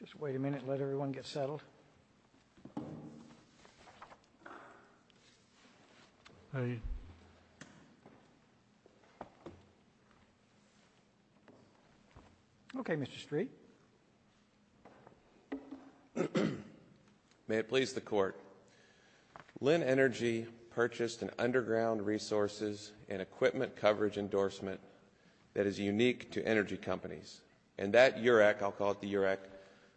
Just wait a minute, let everyone get settled. May it please the Court, Linn Energy purchased an underground resources and equipment coverage endorsement that is unique to energy companies, and that UREC, I'll call it the UREC,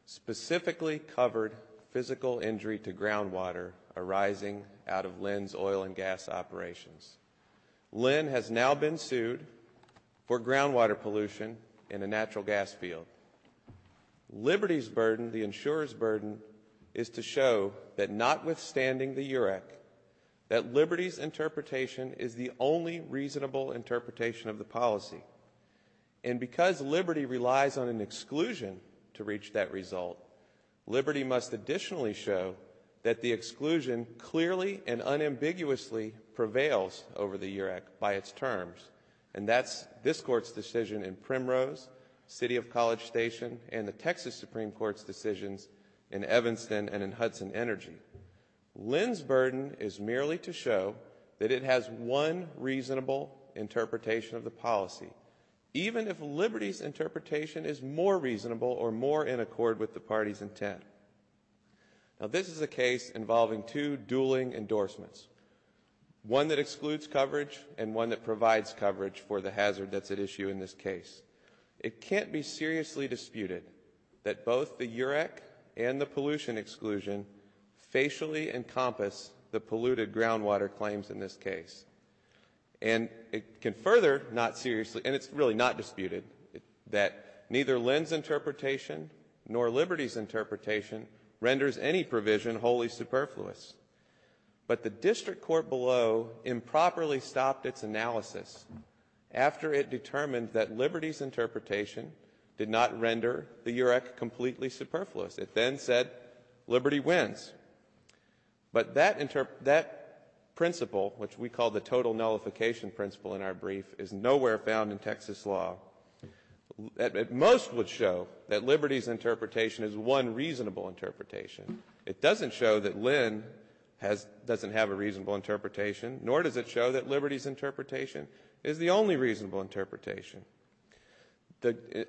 specifically covered physical injury to groundwater arising out of Linn's oil and gas operations. Linn has now been sued for groundwater pollution in a natural gas field. Liberty's burden, the insurer's burden, is to show that notwithstanding the UREC, that Liberty's interpretation is the only reasonable interpretation of the policy. And because Liberty relies on an exclusion to reach that result, Liberty must additionally show that the exclusion clearly and unambiguously prevails over the UREC by its terms. And that's this Court's decision in Primrose, City of College Station, and the Texas Supreme Court's decisions in Evanston and in Hudson Energy. Linn's burden is merely to show that it has one reasonable interpretation of the policy, even if Liberty's interpretation is more reasonable or more in accord with the party's intent. This is a case involving two dueling endorsements, one that excludes coverage and one that provides coverage for the hazard that's at issue in this case. It can't be seriously disputed that both the UREC and the pollution exclusion facially encompass the polluted groundwater claims in this case. And it can further not seriously, and it's really not disputed, that neither Linn's interpretation nor Liberty's interpretation renders any provision wholly superfluous. But the district court below improperly stopped its analysis after it determined that Liberty's interpretation did not render the UREC completely superfluous. It then said Liberty wins. But that principle, which we call the total nullification principle in our brief, is nowhere found in Texas law. Most would show that Liberty's interpretation is one reasonable interpretation. It doesn't show that Linn doesn't have a reasonable interpretation, nor does it show that Liberty's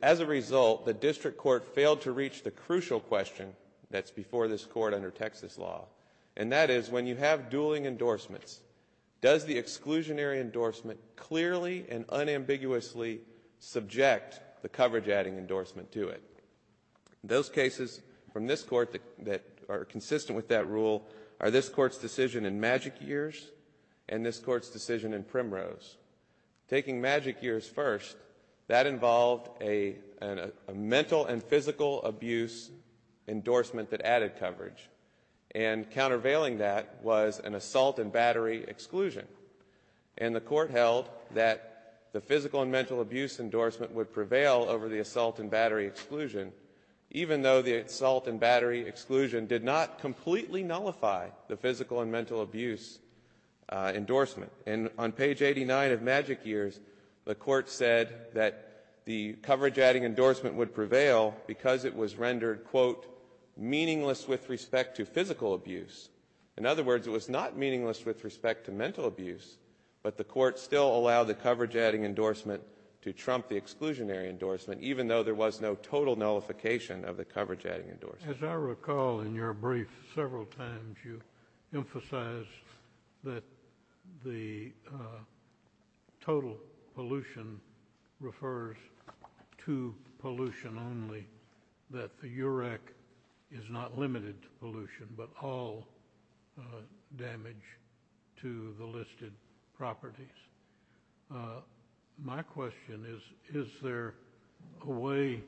As a result, the district court failed to reach the crucial question that's before this court under Texas law. And that is, when you have dueling endorsements, does the exclusionary endorsement clearly and unambiguously subject the coverage-adding endorsement to it? Those cases from this court that are consistent with that rule are this court's decision in Magic Years and this court's decision in Primrose. Taking Magic Years first, that involved a mental and physical abuse endorsement that added coverage. And countervailing that was an assault and battery exclusion. And the court held that the physical and mental abuse endorsement would prevail over the assault and battery exclusion, even though the assault and battery exclusion did not completely nullify the physical and mental abuse endorsement. And on page 89 of Magic Years, the court said that the coverage-adding endorsement would prevail because it was rendered, quote, meaningless with respect to physical abuse. In other words, it was not meaningless with respect to mental abuse, but the court still allowed the coverage-adding endorsement to trump the exclusionary endorsement, even though there was no total nullification of the coverage-adding endorsement. As I recall in your brief several times, you emphasized that the total pollution refers to pollution only, that the UREC is not limited to pollution, but all damage to the listed properties. My question is, is there a way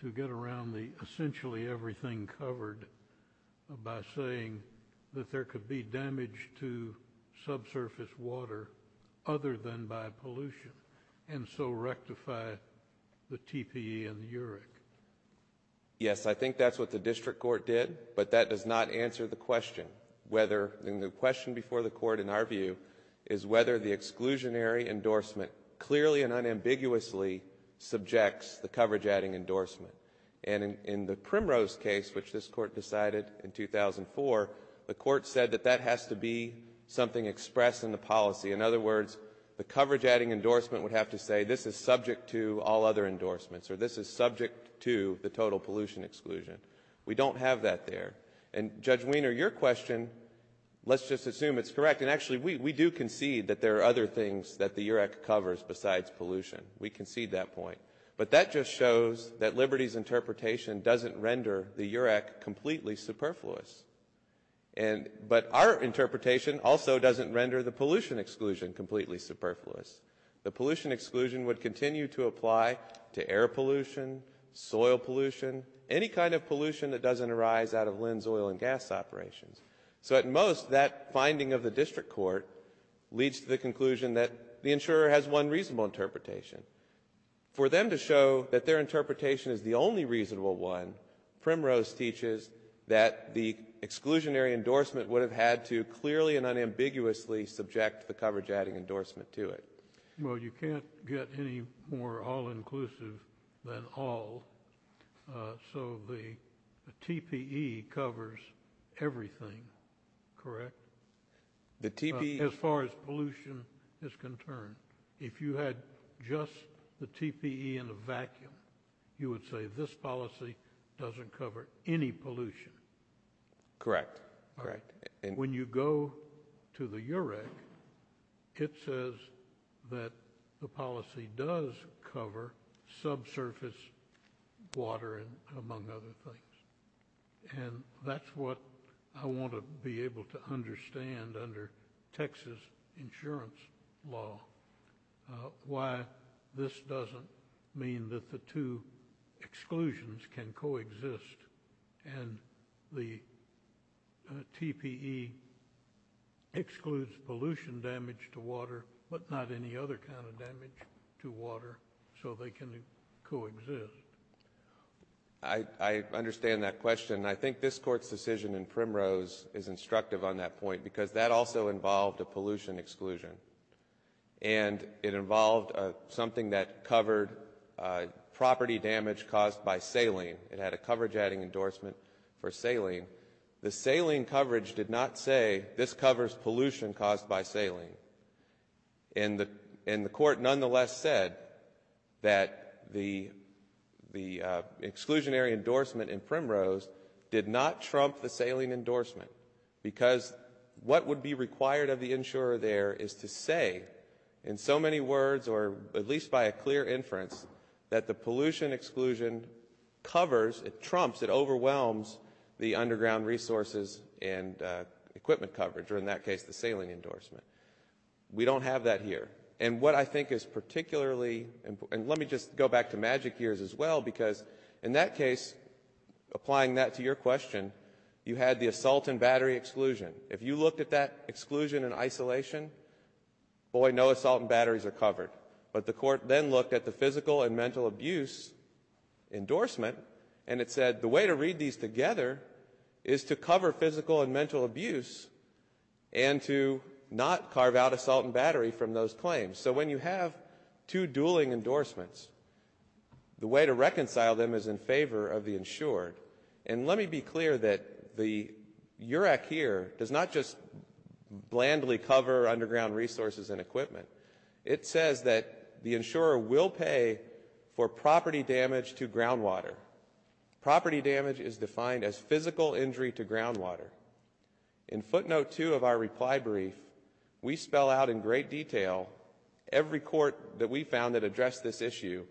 to get around the essentially everything covered by saying that there could be damage to subsurface water other than by pollution, and so rectify the TPE and the UREC? Yes, I think that's what the district court did, but that does not answer the question whether, and the question before the court, in our view, is whether the exclusionary endorsement clearly and unambiguously subjects the coverage-adding endorsement. And in the Primrose case, which this court decided in 2004, the court said that that has to be something expressed in the policy. In other words, the coverage-adding endorsement would have to say, this is subject to all other endorsements, or this is subject to the total pollution exclusion. We don't have that there. And Judge Wiener, your question, let's just assume it's correct, and actually we do concede that there are other things that the UREC covers besides pollution. We concede that point. But that just shows that Liberty's interpretation doesn't render the UREC completely superfluous. But our interpretation also doesn't render the pollution exclusion completely superfluous. The pollution exclusion would continue to apply to air pollution, soil pollution, any kind of pollution that doesn't arise out of Linn's oil and gas operations. So at most, that finding of the district court leads to the conclusion that the insurer has one reasonable interpretation. For them to show that their interpretation is the only reasonable one, Primrose teaches that the exclusionary endorsement would have had to clearly and unambiguously subject the coverage-adding endorsement to it. Well, you can't get any more all-inclusive than all. So the TPE covers everything, correct? The TPE- As far as pollution is concerned. If you had just the TPE in a vacuum, you would say this policy doesn't cover any pollution. Correct. Correct. When you go to the UREC, it says that the policy does cover subsurface water and among other things. And that's what I want to be able to understand under Texas insurance law, why this doesn't mean that the two exclusions can coexist. And the TPE excludes pollution damage to water, but not any other kind of damage to water so they can coexist. I understand that question. I think this Court's decision in Primrose is instructive on that point because that also involved a pollution exclusion. And it involved something that covered property damage caused by saline. It had a coverage-adding endorsement for saline. The saline coverage did not say this covers pollution caused by saline. And the Court nonetheless said that the exclusionary endorsement in Primrose did not trump the saline endorsement because what would be required of the insurer there is to say in so many words or at least by a clear inference that the pollution exclusion covers, it trumps, it overwhelms the underground resources and equipment coverage or in that case the saline endorsement. We don't have that here. And what I think is particularly, and let me just go back to Magic Years as well because in that case, applying that to your question, you had the assault and battery exclusion. If you looked at that exclusion in isolation, boy, no assault and batteries are covered. But the Court then looked at the physical and mental abuse endorsement and it said the way to read these together is to cover physical and mental abuse and to not carve out assault and battery from those claims. So when you have two dueling endorsements, the way to reconcile them is in favor of the insured. And let me be clear that the UREC here does not just blandly cover underground resources and equipment. It says that the insurer will pay for property damage to groundwater. Property damage is defined as physical injury to groundwater. In footnote two of our reply brief, we spell out in great detail every court that we found that addressed this issue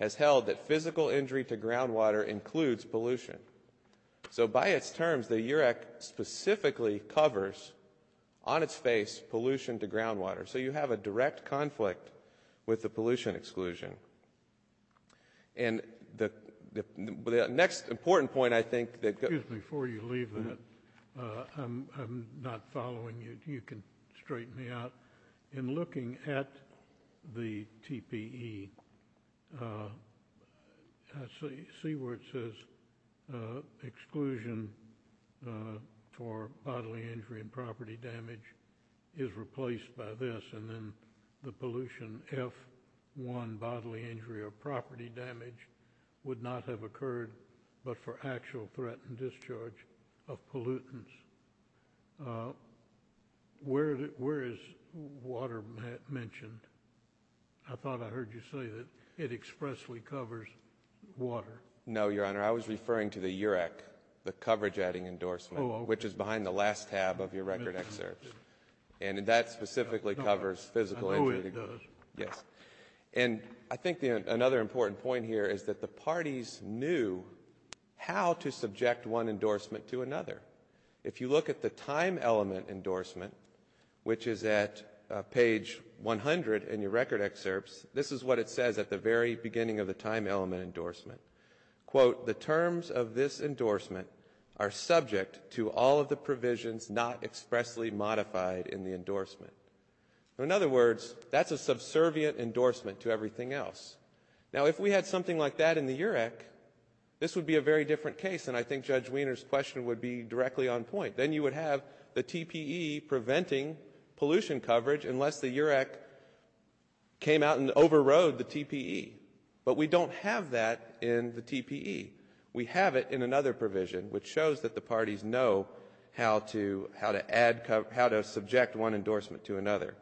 has held that physical injury to groundwater includes pollution. So by its terms, the UREC specifically covers, on its face, pollution to groundwater. So you have a direct conflict with the pollution exclusion. And the next important point I think that... Excuse me, before you leave that, I'm not following you. You can straighten me out. In looking at the TPE, I see where it says exclusion for bodily injury and property damage is replaced by this and then the pollution F1 bodily injury or property damage would not have occurred but for actual threat and discharge of pollutants. Where is water mentioned? I thought I heard you say that it expressly covers water. No, Your Honor, I was referring to the UREC, the coverage adding endorsement, which is behind the last tab of your record excerpts. And that specifically covers physical injury. I know it does. Yes. And I think another important point here is that the parties knew how to subject one endorsement to another. If you look at the time element endorsement, which is at page 100 in your record excerpts, this is what it says at the very beginning of the time element endorsement. Quote, the terms of this endorsement are subject to all of the provisions not expressly modified in the endorsement. In other words, that's a subservient endorsement to everything else. Now, if we had something like that in the UREC, this would be a very different case and I think Judge Wiener's question would be directly on point. Then you would have the TPE preventing pollution coverage unless the UREC came out and overrode the TPE. But we don't have that in the TPE. We have it in another provision, which shows that the parties know how to add, how to subject one endorsement to another.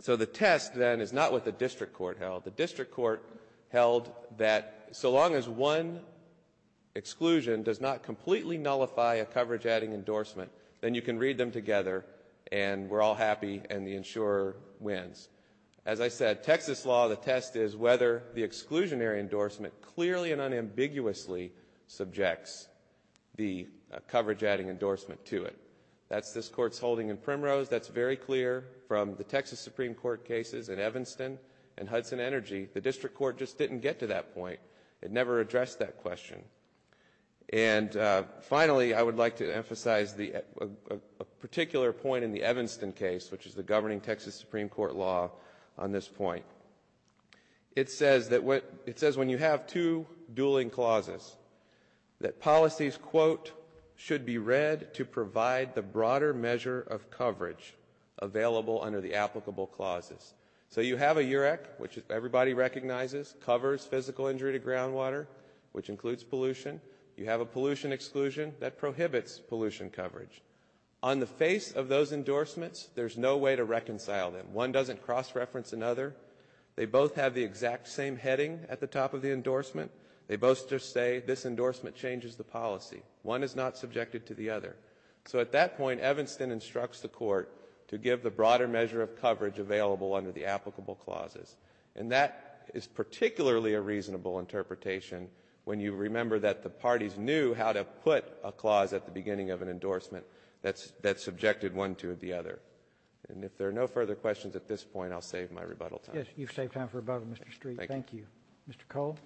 So the test then is not what the district court held. The district court held that so long as one exclusion does not completely nullify a coverage adding endorsement, then you can read them together and we're all happy and the insurer wins. As I said, Texas law, the test is whether the exclusionary endorsement clearly and unambiguously subjects the coverage adding endorsement to it. That's this Court's holding in Primrose. That's very clear from the Texas Supreme Court cases in Evanston and Hudson Energy. The district court just didn't get to that point. It never addressed that question. And finally, I would like to emphasize a particular point in the Evanston case, which is the governing Texas Supreme Court law on this point. It says that when you have two dueling clauses, that policies, quote, should be read to provide the broader measure of coverage available under the applicable clauses. So you have a UREC, which everybody recognizes, covers physical injury to groundwater, which includes pollution. You have a pollution exclusion that prohibits pollution coverage. On the face of those endorsements, there's no way to reconcile them. One doesn't cross-reference another. They both have the exact same heading at the top of the endorsement. They both just say, this endorsement changes the policy. One is not subjected to the other. So at that point, Evanston instructs the court to give the broader measure of coverage available under the applicable clauses. And that is particularly a reasonable interpretation when you remember that the parties knew how to put a clause at the beginning of an endorsement that subjected one to the other. And if there are no further questions at this point, I'll save my rebuttal time. Yes, you've saved time for rebuttal, Mr. Street. Thank you. Mr. Cole?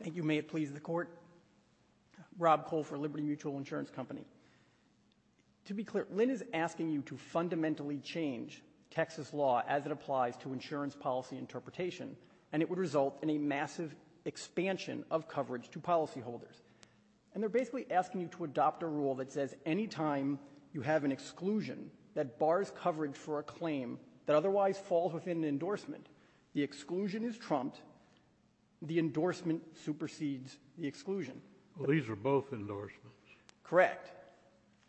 Thank you. May it please the court. Rob Cole for Liberty Mutual Insurance Company. To be clear, Lynn is asking you to fundamentally change Texas law as it applies to insurance policy interpretation. And it would result in a massive expansion of coverage to policyholders. And they're basically asking you to adopt a rule that says any time you have an exclusion that bars coverage for a claim that otherwise falls within an endorsement, the exclusion is trumped, the endorsement supersedes the exclusion. Well, these are both endorsements. Correct.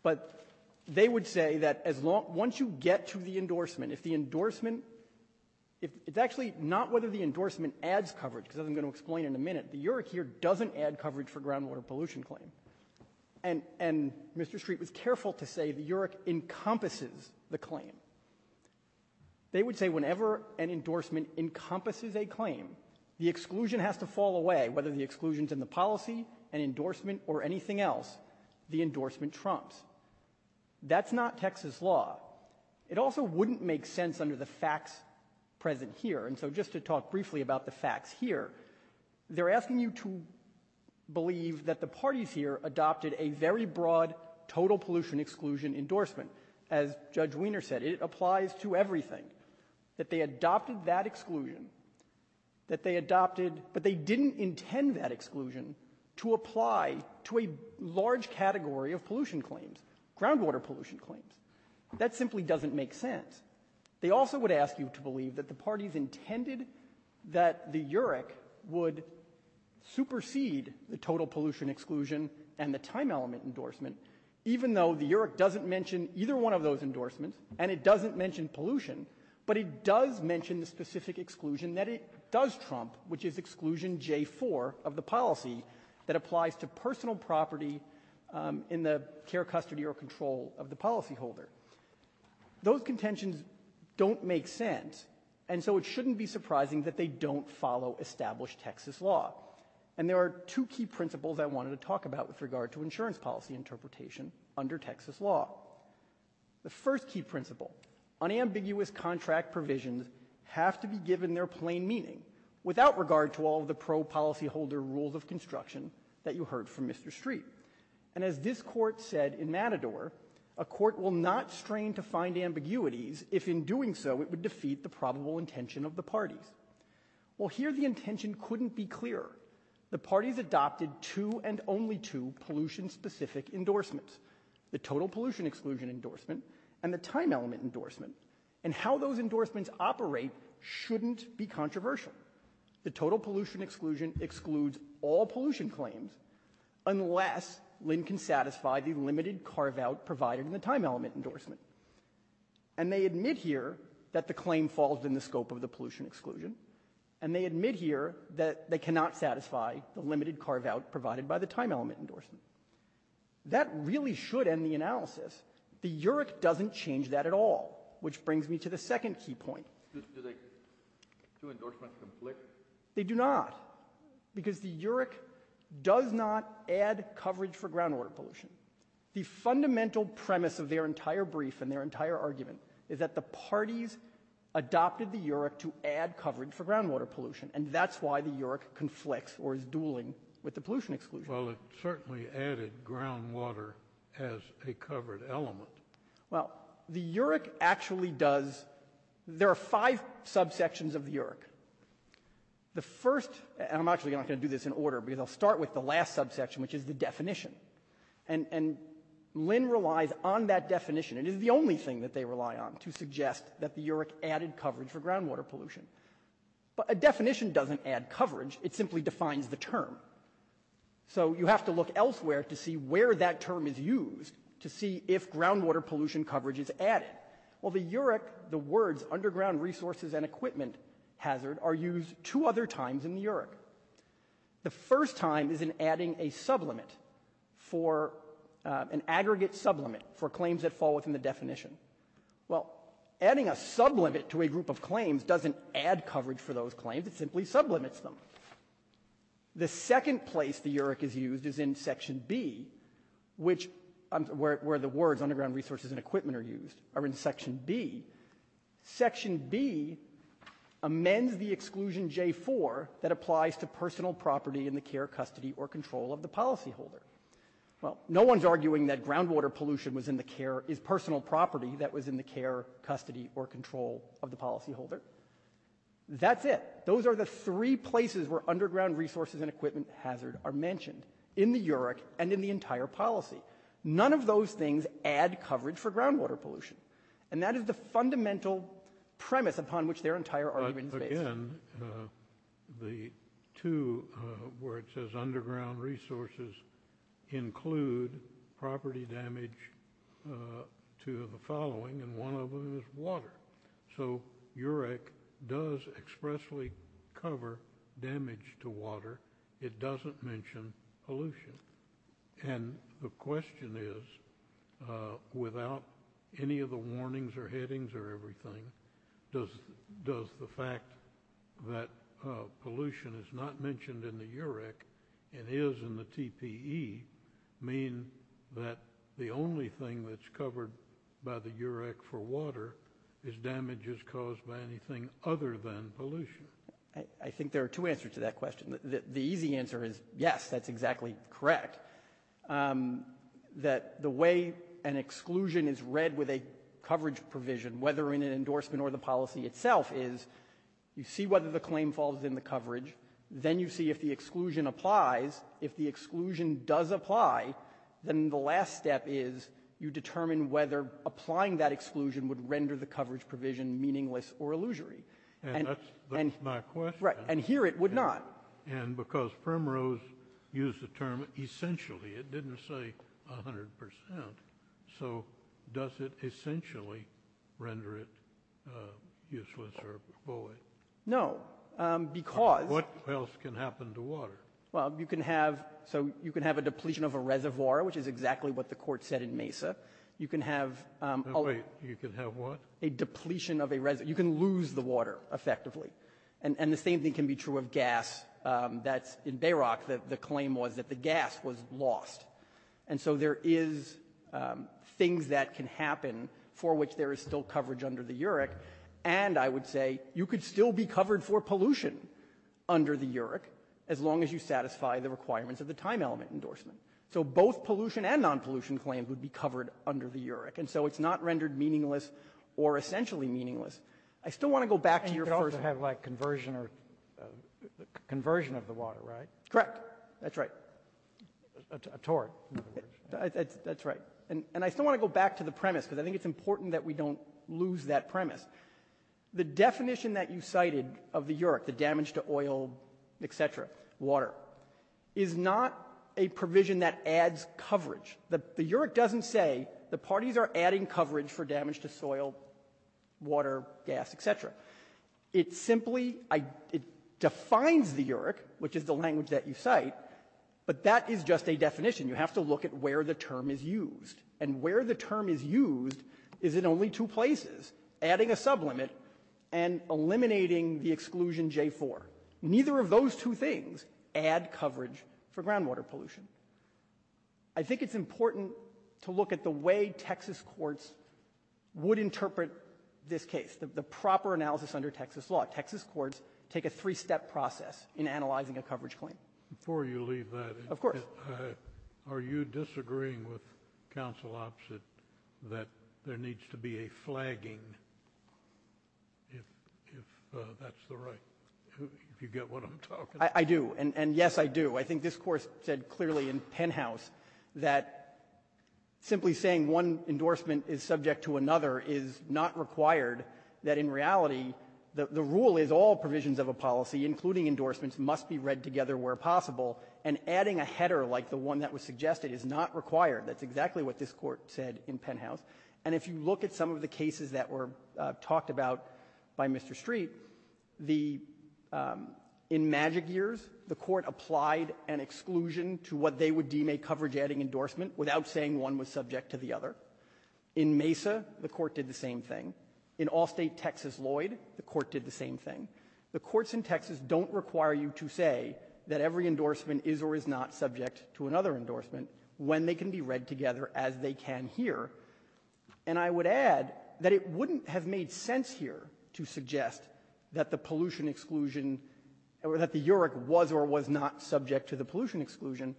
But they would say that as long as you get to the endorsement, if the endorsement It's actually not whether the endorsement adds coverage, because as I'm going to explain in a minute, the UREC here doesn't add coverage for groundwater pollution claim. And Mr. Street was careful to say the UREC encompasses the claim. They would say whenever an endorsement encompasses a claim, the exclusion has to fall away, whether the exclusion is in the policy, an endorsement, or anything else, the endorsement trumps. That's not Texas law. It also wouldn't make sense under the facts present here. And so just to talk briefly about the facts here, they're asking you to believe that the parties here adopted a very broad total pollution exclusion endorsement. As Judge Wiener said, it applies to everything, that they adopted that exclusion, that they adopted, but they didn't intend that exclusion to apply to a large category of pollution claims, groundwater pollution claims. That simply doesn't make sense. They also would ask you to believe that the parties intended that the UREC would supersede the total pollution exclusion and the time element endorsement, even though the UREC doesn't mention either one of those endorsements, and it doesn't mention pollution, but it does mention the specific exclusion that it does trump, which is the exclusion J4 of the policy that applies to personal property in the care, custody, or control of the policyholder. Those contentions don't make sense, and so it shouldn't be surprising that they don't follow established Texas law. And there are two key principles I wanted to talk about with regard to insurance policy interpretation under Texas law. The first key principle, unambiguous contract provisions have to be given their plain meaning without regard to all of the pro-policyholder rules of construction that you heard from Mr. Street. And as this court said in Matador, a court will not strain to find ambiguities if in doing so it would defeat the probable intention of the parties. Well, here the intention couldn't be clearer. The parties adopted two and only two pollution-specific endorsements, the total pollution exclusion endorsement and the time element endorsement, and how those endorsements operate shouldn't be controversial. The total pollution exclusion excludes all pollution claims unless Lynn can satisfy the limited carve-out provided in the time element endorsement. And they admit here that the claim falls in the scope of the pollution exclusion, and they admit here that they cannot satisfy the limited carve-out provided by the time element endorsement. That really should end the analysis. The UREC doesn't change that at all, which brings me to the second key point. Do the two endorsements conflict? They do not, because the UREC does not add coverage for groundwater pollution. The fundamental premise of their entire brief and their entire argument is that the parties adopted the UREC to add coverage for groundwater pollution, and that's why the UREC conflicts or is dueling with the pollution exclusion. Well, it certainly added groundwater as a covered element. Well, the UREC actually does – there are five subsections of the UREC. The first – and I'm actually not going to do this in order, because I'll start with the last subsection, which is the definition. And Lynn relies on that definition. It is the only thing that they rely on to suggest that the UREC added coverage for groundwater pollution. It simply defines the term. So you have to look elsewhere to see where that term is used to see if groundwater pollution coverage is added. Well, the UREC – the words underground resources and equipment hazard are used two other times in the UREC. The first time is in adding a sublimit for – an aggregate sublimit for claims that fall within the definition. Well, adding a sublimit to a group of claims doesn't add coverage for those claims. It simply sublimits them. The second place the UREC is used is in Section B, which – where the words underground resources and equipment are used – are in Section B. Section B amends the exclusion J4 that applies to personal property in the care, custody, or control of the policyholder. Well, no one's arguing that groundwater pollution was in the care – is personal property that was in the care, custody, or control of the policyholder. That's it. Those are the three places where underground resources and equipment hazard are mentioned in the UREC and in the entire policy. None of those things add coverage for groundwater pollution. And that is the fundamental premise upon which their entire argument is based. But again, the two – where it says underground resources include property damage to the following, and one of them is water. So UREC does expressly cover damage to water. It doesn't mention pollution. And the question is, without any of the warnings or headings or everything, does the fact that pollution is not mentioned in the UREC and is in the TPE mean that the only thing that's covered by the UREC for water is damages caused by anything other than pollution? I think there are two answers to that question. The easy answer is, yes, that's exactly correct. That the way an exclusion is read with a coverage provision, whether in an endorsement or the policy itself, is you see whether the claim falls in the coverage, then you see if the exclusion applies. If the exclusion does apply, then the last step is you determine whether applying that exclusion would render the coverage provision meaningless or illusory. And that's my question. And here it would not. And because Primrose used the term essentially, it didn't say 100 percent, so does it essentially render it useless or void? No. Because – But what else can happen to water? Well, you can have – so you can have a depletion of a reservoir, which is exactly what the Court said in Mesa. You can have – Wait. You can have what? A depletion of a – you can lose the water, effectively. And the same thing can be true of gas. That's – in Bayrock, the claim was that the gas was lost. And so there is things that can happen for which there is still coverage under the UREC. And I would say you could still be covered for pollution under the UREC as long as you satisfy the requirements of the time element endorsement. So both pollution and non-pollution claims would be covered under the UREC. And so it's not rendered meaningless or essentially meaningless. I still want to go back to your first – And you could also have, like, conversion or – conversion of the water, right? Correct. That's right. A tort. That's right. And I still want to go back to the premise, because I think it's important that we don't lose that premise. The definition that you cited of the UREC, the damage to oil, et cetera, water, is not a provision that adds coverage. The UREC doesn't say the parties are adding coverage for damage to soil, water, gas, et cetera. It simply – it defines the UREC, which is the language that you cite, but that is just a definition. You have to look at where the term is used. And where the term is used is in only two places, adding a sublimit and eliminating the exclusion J-4. Neither of those two things add coverage for groundwater pollution. I think it's important to look at the way Texas courts would interpret this case, the proper analysis under Texas law. Texas courts take a three-step process in analyzing a coverage claim. I think it's also opposite that there needs to be a flagging, if that's the right – if you get what I'm talking about. I do. And yes, I do. I think this Court said clearly in Penhouse that simply saying one endorsement is subject to another is not required. That in reality, the rule is all provisions of a policy, including endorsements, must be read together where possible. And adding a header like the one that was suggested is not required. That's exactly what this Court said in Penhouse. And if you look at some of the cases that were talked about by Mr. Street, the – in MAGIC years, the Court applied an exclusion to what they would deem a coverage-adding endorsement without saying one was subject to the other. In MESA, the Court did the same thing. In Allstate-Texas-Lloyd, the Court did the same thing. The courts in Texas don't require you to say that every endorsement is or is not subject to another endorsement when they can be read together as they can here. And I would add that it wouldn't have made sense here to suggest that the pollution exclusion or that the UREC was or was not subject to the pollution exclusion.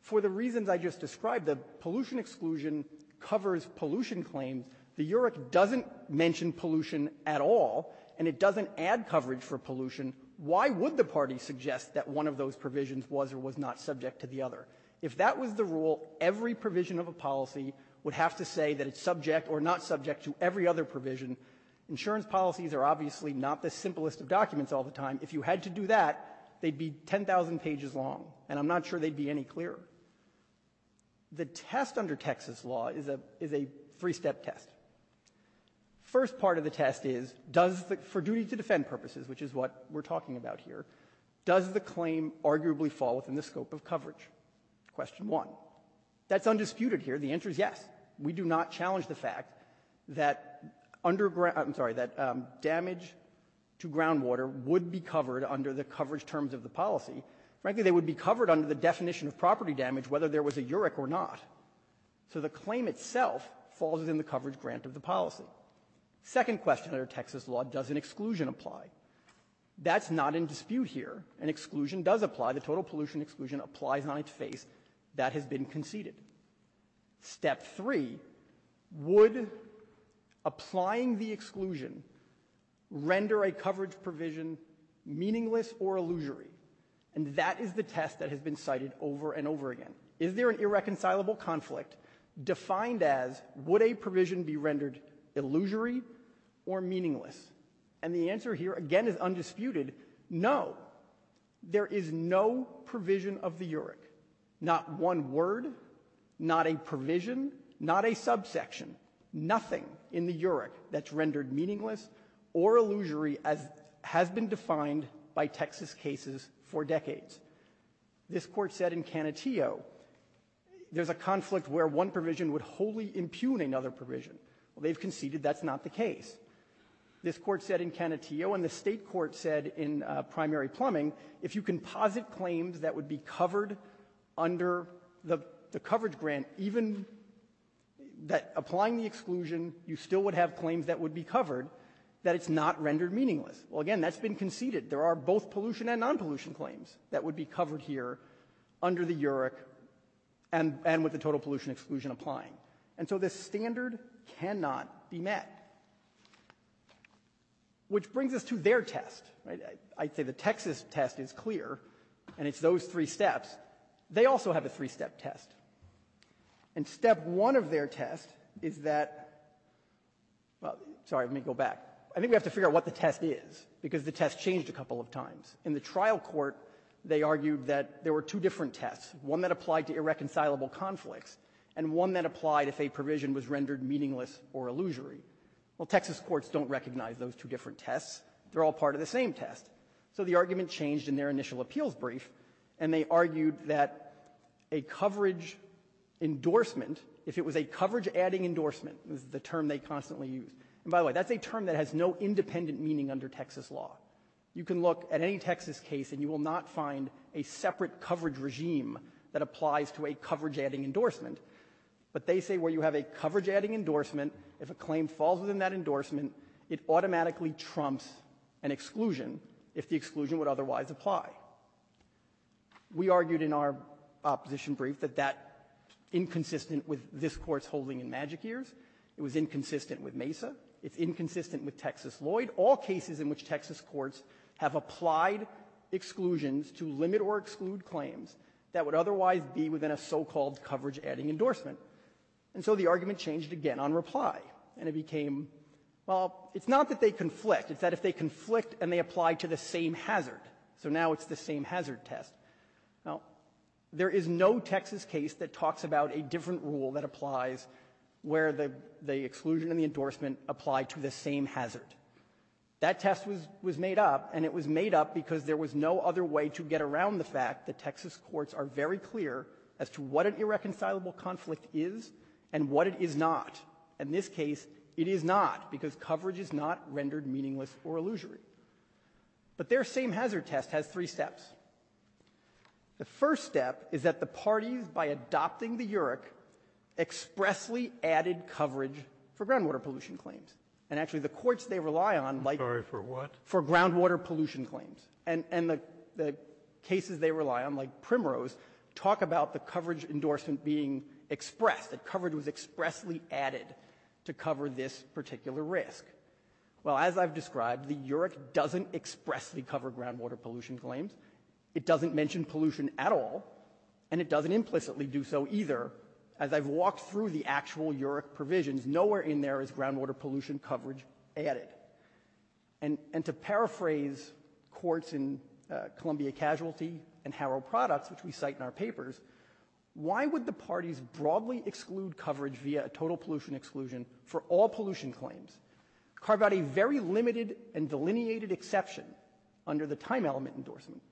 For the reasons I just described, the pollution exclusion covers pollution claims. The UREC doesn't mention pollution at all, and it doesn't add coverage for pollution. Why would the party suggest that one of those provisions was or was not subject to the other? If that was the rule, every provision of a policy would have to say that it's subject or not subject to every other provision. Insurance policies are obviously not the simplest of documents all the time. If you had to do that, they'd be 10,000 pages long, and I'm not sure they'd be any clearer. The test under Texas law is a – is a three-step test. First part of the test is, does the – for duty to defend purposes, which is what we're talking about here, does the claim arguably fall within the scope of coverage? Question one. That's undisputed here. The answer is yes. We do not challenge the fact that underground – I'm sorry, that damage to groundwater would be covered under the coverage terms of the policy. Frankly, they would be covered under the definition of property damage whether there was a UREC or not. So the claim itself falls within the coverage grant of the policy. Second question under Texas law, does an exclusion apply? That's not in dispute here. An exclusion does apply. The total pollution exclusion applies on its face. That has been conceded. Step three, would applying the exclusion render a coverage provision meaningless or illusory? And that is the test that has been cited over and over again. Is there an irreconcilable conflict defined as would a provision be rendered illusory or meaningless? And the answer here, again, is undisputed, no. There is no provision of the UREC, not one word, not a provision, not a subsection, nothing in the UREC that's rendered meaningless or illusory as has been defined by Texas cases for decades. This Court said in Canutillo, there's a conflict where one provision would wholly impugn another provision. Well, they've conceded that's not the case. This Court said in Canutillo and the State Court said in primary plumbing, if you can posit claims that would be covered under the coverage grant, even that applying the exclusion, you still would have claims that would be covered, that it's not rendered meaningless. Well, again, that's been conceded. There are both pollution and non-pollution claims that would be covered here under the UREC and with the total pollution exclusion applying. And so this standard cannot be met. Which brings us to their test, right? I'd say the Texas test is clear, and it's those three steps. They also have a three-step test. And step one of their test is that, well, sorry, let me go back. I think we have to figure out what the test is, because the test changed a couple of times. In the trial court, they argued that there were two different tests, one that applied to irreconcilable conflicts and one that applied if a provision was rendered meaningless or illusory. Well, Texas courts don't recognize those two different tests. They're all part of the same test. So the argument changed in their initial appeals brief, and they argued that a coverage endorsement, if it was a coverage-adding endorsement, is the term they constantly use. And by the way, that's a term that has no independent meaning under Texas law. You can look at any Texas case, and you will not find a separate coverage regime that applies to a coverage-adding endorsement. But they say where you have a coverage-adding endorsement, if a claim falls within that endorsement, it automatically trumps an exclusion if the exclusion would otherwise apply. We argued in our opposition brief that that, inconsistent with this Court's holding in Magic Ears, it was inconsistent with MESA, it's inconsistent with Texas Lloyd, all cases in which Texas courts have applied exclusions to limit or exclude claims that would otherwise be within a so-called coverage-adding endorsement. And so the argument changed again on reply, and it became, well, it's not that they conflict, it's that if they conflict and they apply to the same hazard, so now it's the same hazard test. Now, there is no Texas case that talks about a different rule that applies where the exclusion and the endorsement apply to the same hazard. That test was made up, and it was made up because there was no other way to get around the fact that Texas courts are very clear as to what an irreconcilable conflict is and what it is not. In this case, it is not, because coverage is not rendered meaningless or illusory. But their same hazard test has three steps. The first step is that the parties, by adopting the UREC, expressly added coverage for groundwater pollution claims. And actually, the courts they rely on, like the one for groundwater pollution claims, and the cases they rely on, like Primrose, talk about the coverage endorsement being expressed, that coverage was expressly added to cover this particular risk. Well, as I've described, the UREC doesn't expressly cover groundwater pollution claims. It doesn't mention pollution at all, and it doesn't implicitly do so either. As I've walked through the actual UREC provisions, nowhere in there is groundwater pollution coverage added. And to paraphrase courts in Columbia Casualty and Harrow Products, which we cite in our papers, why would the parties broadly exclude coverage via a total pollution exclusion for all pollution claims, carve out a very limited and exclusive time-element endorsement,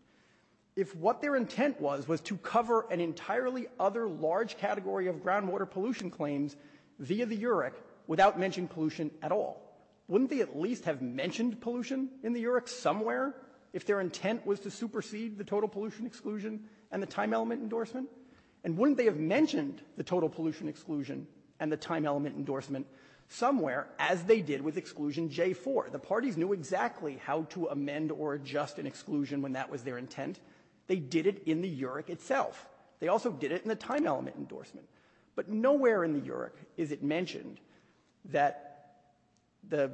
if what their intent was was to cover an entirely other large category of groundwater pollution claims via the UREC without mentioning pollution at all? Wouldn't they at least have mentioned pollution in the UREC somewhere if their intent was to supersede the total pollution exclusion and the time-element endorsement? And wouldn't they have mentioned the total pollution exclusion and the time-element endorsement somewhere, as they did with exclusion J4? The parties knew exactly how to amend or adjust an exclusion when that was their intent. They did it in the UREC itself. They also did it in the time-element endorsement. But nowhere in the UREC is it mentioned that the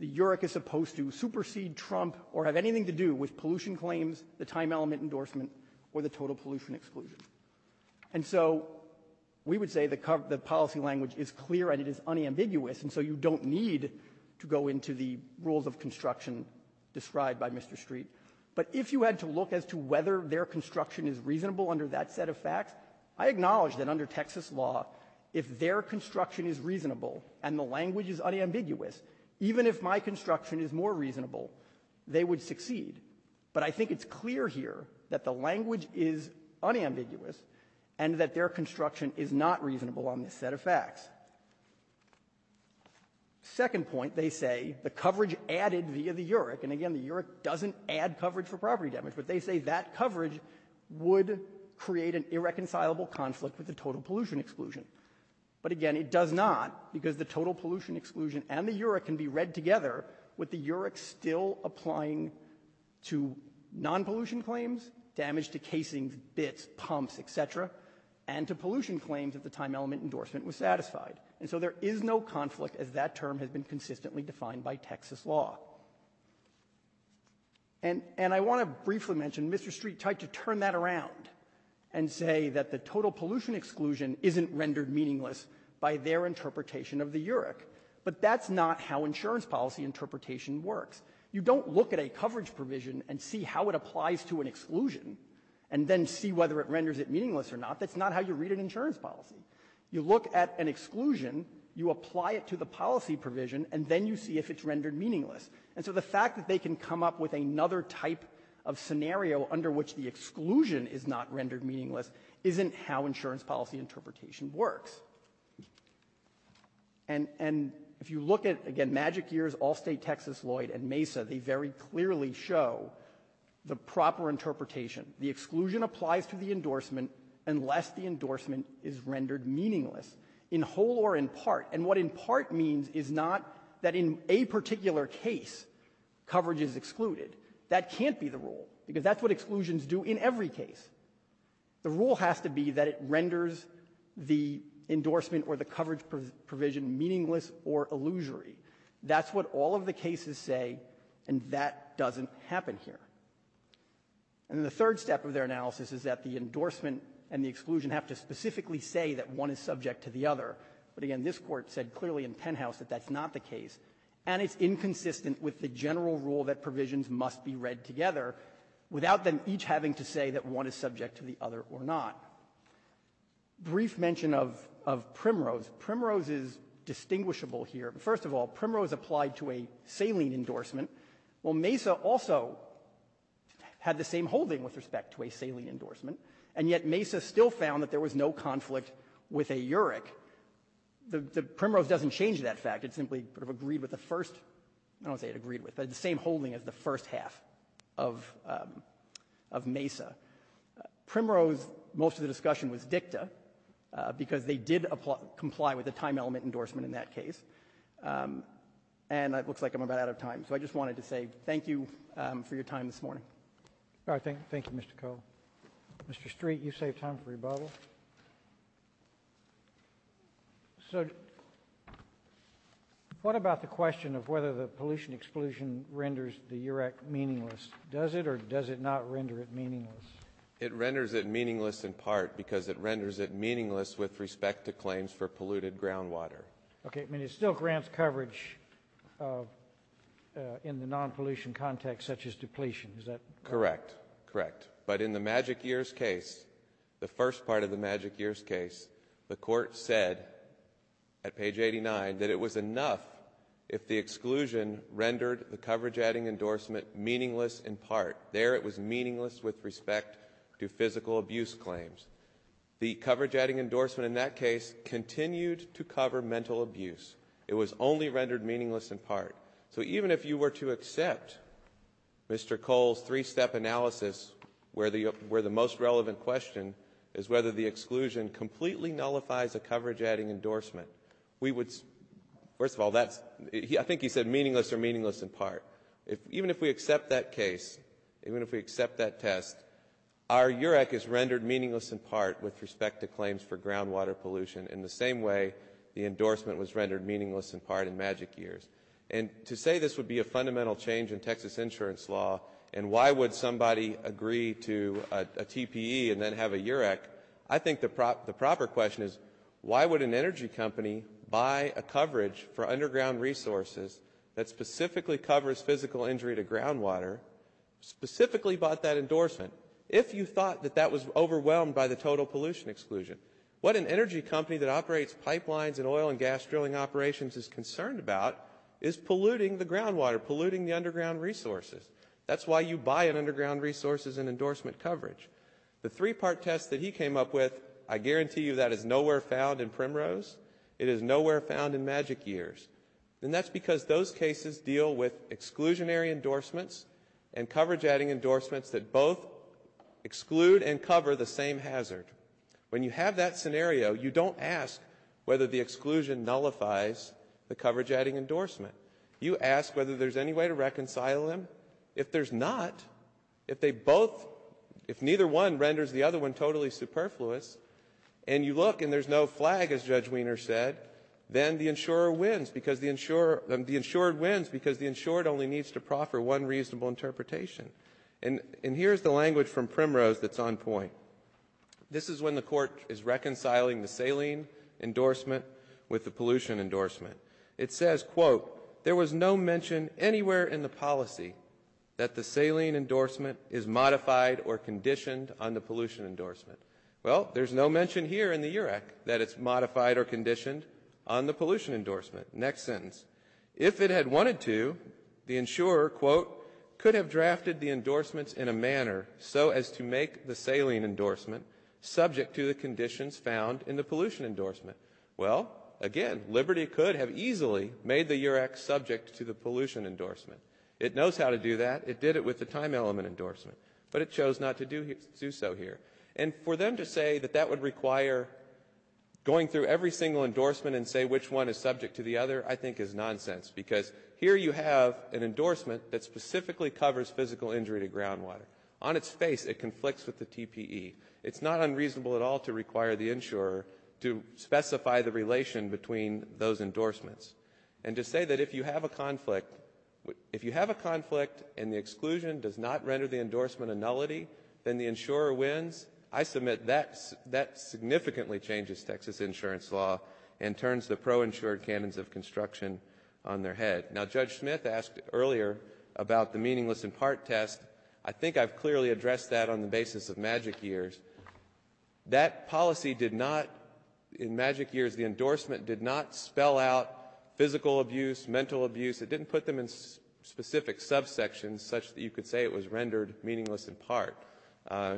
UREC is supposed to supersede Trump or have anything to do with pollution claims, the time-element endorsement, or the total pollution exclusion. And so we would say the policy language is clear and it is unambiguous. And so you don't need to go into the rules of construction described by Mr. Street. But if you had to look as to whether their construction is reasonable under that set of facts, I acknowledge that under Texas law, if their construction is reasonable and the language is unambiguous, even if my construction is more reasonable, they would succeed. But I think it's clear here that the language is unambiguous and that their construction is not reasonable on this set of facts. Second point, they say, the coverage added via the UREC, and again, the UREC doesn't add coverage for property damage, but they say that coverage would create an irreconcilable conflict with the total pollution exclusion. But again, it does not, because the total pollution exclusion and the UREC can be read together with the UREC still applying to non-pollution claims, damage to casings, bits, pumps, etc., and to pollution claims at the time-element endorsement was satisfied. And so there is no conflict as that term has been consistently defined by Texas law. And I want to briefly mention Mr. Street tried to turn that around and say that the total pollution exclusion isn't rendered meaningless by their interpretation of the UREC. But that's not how insurance policy interpretation works. You don't look at a coverage provision and see how it applies to an exclusion and then see whether it renders it meaningless or not. That's not how you read an insurance policy. You look at an exclusion, you apply it to the policy provision, and then you see if it's rendered meaningless. And so the fact that they can come up with another type of scenario under which the exclusion is not rendered meaningless isn't how insurance policy interpretation works. And if you look at, again, Magic Years, Allstate, Texas, Lloyd, and Mesa, they very clearly show the proper interpretation. The exclusion applies to the endorsement unless the endorsement is rendered meaningless, in whole or in part. And what in part means is not that in a particular case coverage is excluded. That can't be the rule because that's what exclusions do in every case. The rule has to be that it renders the endorsement or the coverage provision meaningless or illusory. That's what all of the cases say, and that doesn't happen here. And the third step of their analysis is that the endorsement and the exclusion have to specifically say that one is subject to the other. But again, this Court said clearly in Penthouse that that's not the case. And it's inconsistent with the general rule that provisions must be read together without them each having to say that one is subject to the other or not. Brief mention of Primrose. Primrose is distinguishable here. First of all, Primrose applied to a saline endorsement. Well, Mesa also had the same holding with respect to a saline endorsement, and yet Mesa still found that there was no conflict with a URIC. The Primrose doesn't change that fact. It simply agreed with the first, I don't want to say it agreed with, but the same holding as the first half of Mesa. Primrose, most of the discussion was dicta because they did comply with a time element endorsement in that case. And it looks like I'm about out of time, so I just wanted to say thank you for your time this morning. All right, thank you, Mr. Cole. Mr. Street, you saved time for your Bible. So what about the question of whether the pollution exclusion renders the URIC meaningless? Does it or does it not render it meaningless? It renders it meaningless in part because it renders it meaningless with respect to claims for polluted groundwater. Okay, I mean it still grants coverage in the non-pollution context such as depletion, is that correct? Correct, correct. But in the Magic Years case, the first part of the Magic Years case, the court said at page 89 that it was enough if the exclusion rendered the coverage-adding endorsement meaningless in part. There it was meaningless with respect to physical abuse claims. The coverage-adding endorsement in that case continued to cover mental abuse. It was only rendered meaningless in part. So even if you were to accept Mr. Cole's three-step analysis where the most relevant question is whether the exclusion completely nullifies a coverage-adding endorsement, we would, first of all, I think he said meaningless or meaningless in part. Even if we accept that case, even if we accept that test, our URIC is rendered meaningless in part with respect to claims for groundwater pollution in the same way the endorsement was And to say this would be a fundamental change in Texas insurance law and why would somebody agree to a TPE and then have a URIC, I think the proper question is why would an energy company buy a coverage for underground resources that specifically covers physical injury to groundwater, specifically bought that endorsement, if you thought that that was overwhelmed by the total pollution exclusion? What an energy company that groundwater, polluting the underground resources. That's why you buy an underground resources and endorsement coverage. The three-part test that he came up with, I guarantee you that is nowhere found in Primrose. It is nowhere found in Magic Years. And that's because those cases deal with exclusionary endorsements and coverage-adding endorsements that both exclude and cover the same hazard. When you have that scenario, you don't ask whether the exclusion nullifies the coverage-adding endorsement. You ask whether there's any way to reconcile them. If there's not, if they both, if neither one renders the other one totally superfluous, and you look and there's no flag, as Judge Wiener said, then the insurer wins because the insured only needs to proffer one reasonable interpretation. And here's the language from Primrose that's on point. This is when the insurer makes a saline endorsement with the pollution endorsement. It says, quote, there was no mention anywhere in the policy that the saline endorsement is modified or conditioned on the pollution endorsement. Well, there's no mention here in the UREC that it's modified or conditioned on the pollution endorsement. Next sentence. If it had wanted to, the insurer, quote, could have drafted the endorsements in a manner so as to make the saline endorsement subject to the conditions found in the pollution endorsement. Well, again, Liberty could have easily made the UREC subject to the pollution endorsement. It knows how to do that. It did it with the time element endorsement. But it chose not to do so here. And for them to say that that would require going through every single endorsement and say which one is subject to the other, I think is nonsense. Because here you have an endorsement that is subject to the UREC. It's not unreasonable at all to require the insurer to specify the relation between those endorsements. And to say that if you have a conflict, if you have a conflict and the exclusion does not render the endorsement a nullity, then the insurer wins, I submit that significantly changes Texas insurance law and turns the pro-insured cannons of construction on their head. Now, Judge Smith asked earlier about the meaningless in part test. I think I've clearly addressed that on the basis of Magic Years. That policy did not, in Magic Years, the endorsement did not spell out physical abuse, mental abuse. It didn't put them in specific subsections such that you could say it was rendered meaningless in part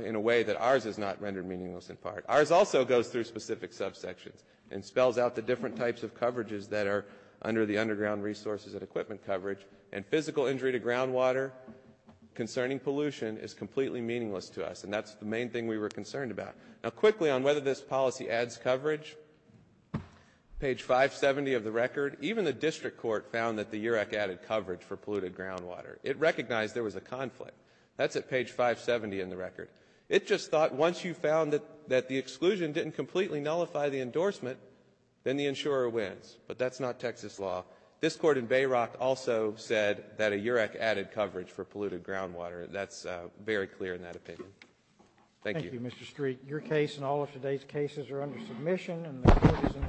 in a way that ours is not rendered meaningless in part. Ours also goes through specific subsections and spells out the different types of coverages that are under the underground resources and equipment coverage. And physical injury to groundwater concerning pollution is completely meaningless to us. And that's the main thing we were concerned about. Now, quickly on whether this policy adds coverage, page 570 of the record, even the district court found that the UREC added coverage for polluted groundwater. It recognized there was a conflict. That's at page 570 in the record. It just thought once you found that the exclusion didn't completely nullify the endorsement, then the insurer wins. But that's not Texas law. This Court in Bayrock also said that a UREC added coverage for polluted groundwater. That's very clear in that opinion. Thank you. Roberts. Thank you, Mr. Street. Your case and all of today's cases are under submission, and the Court is in the room.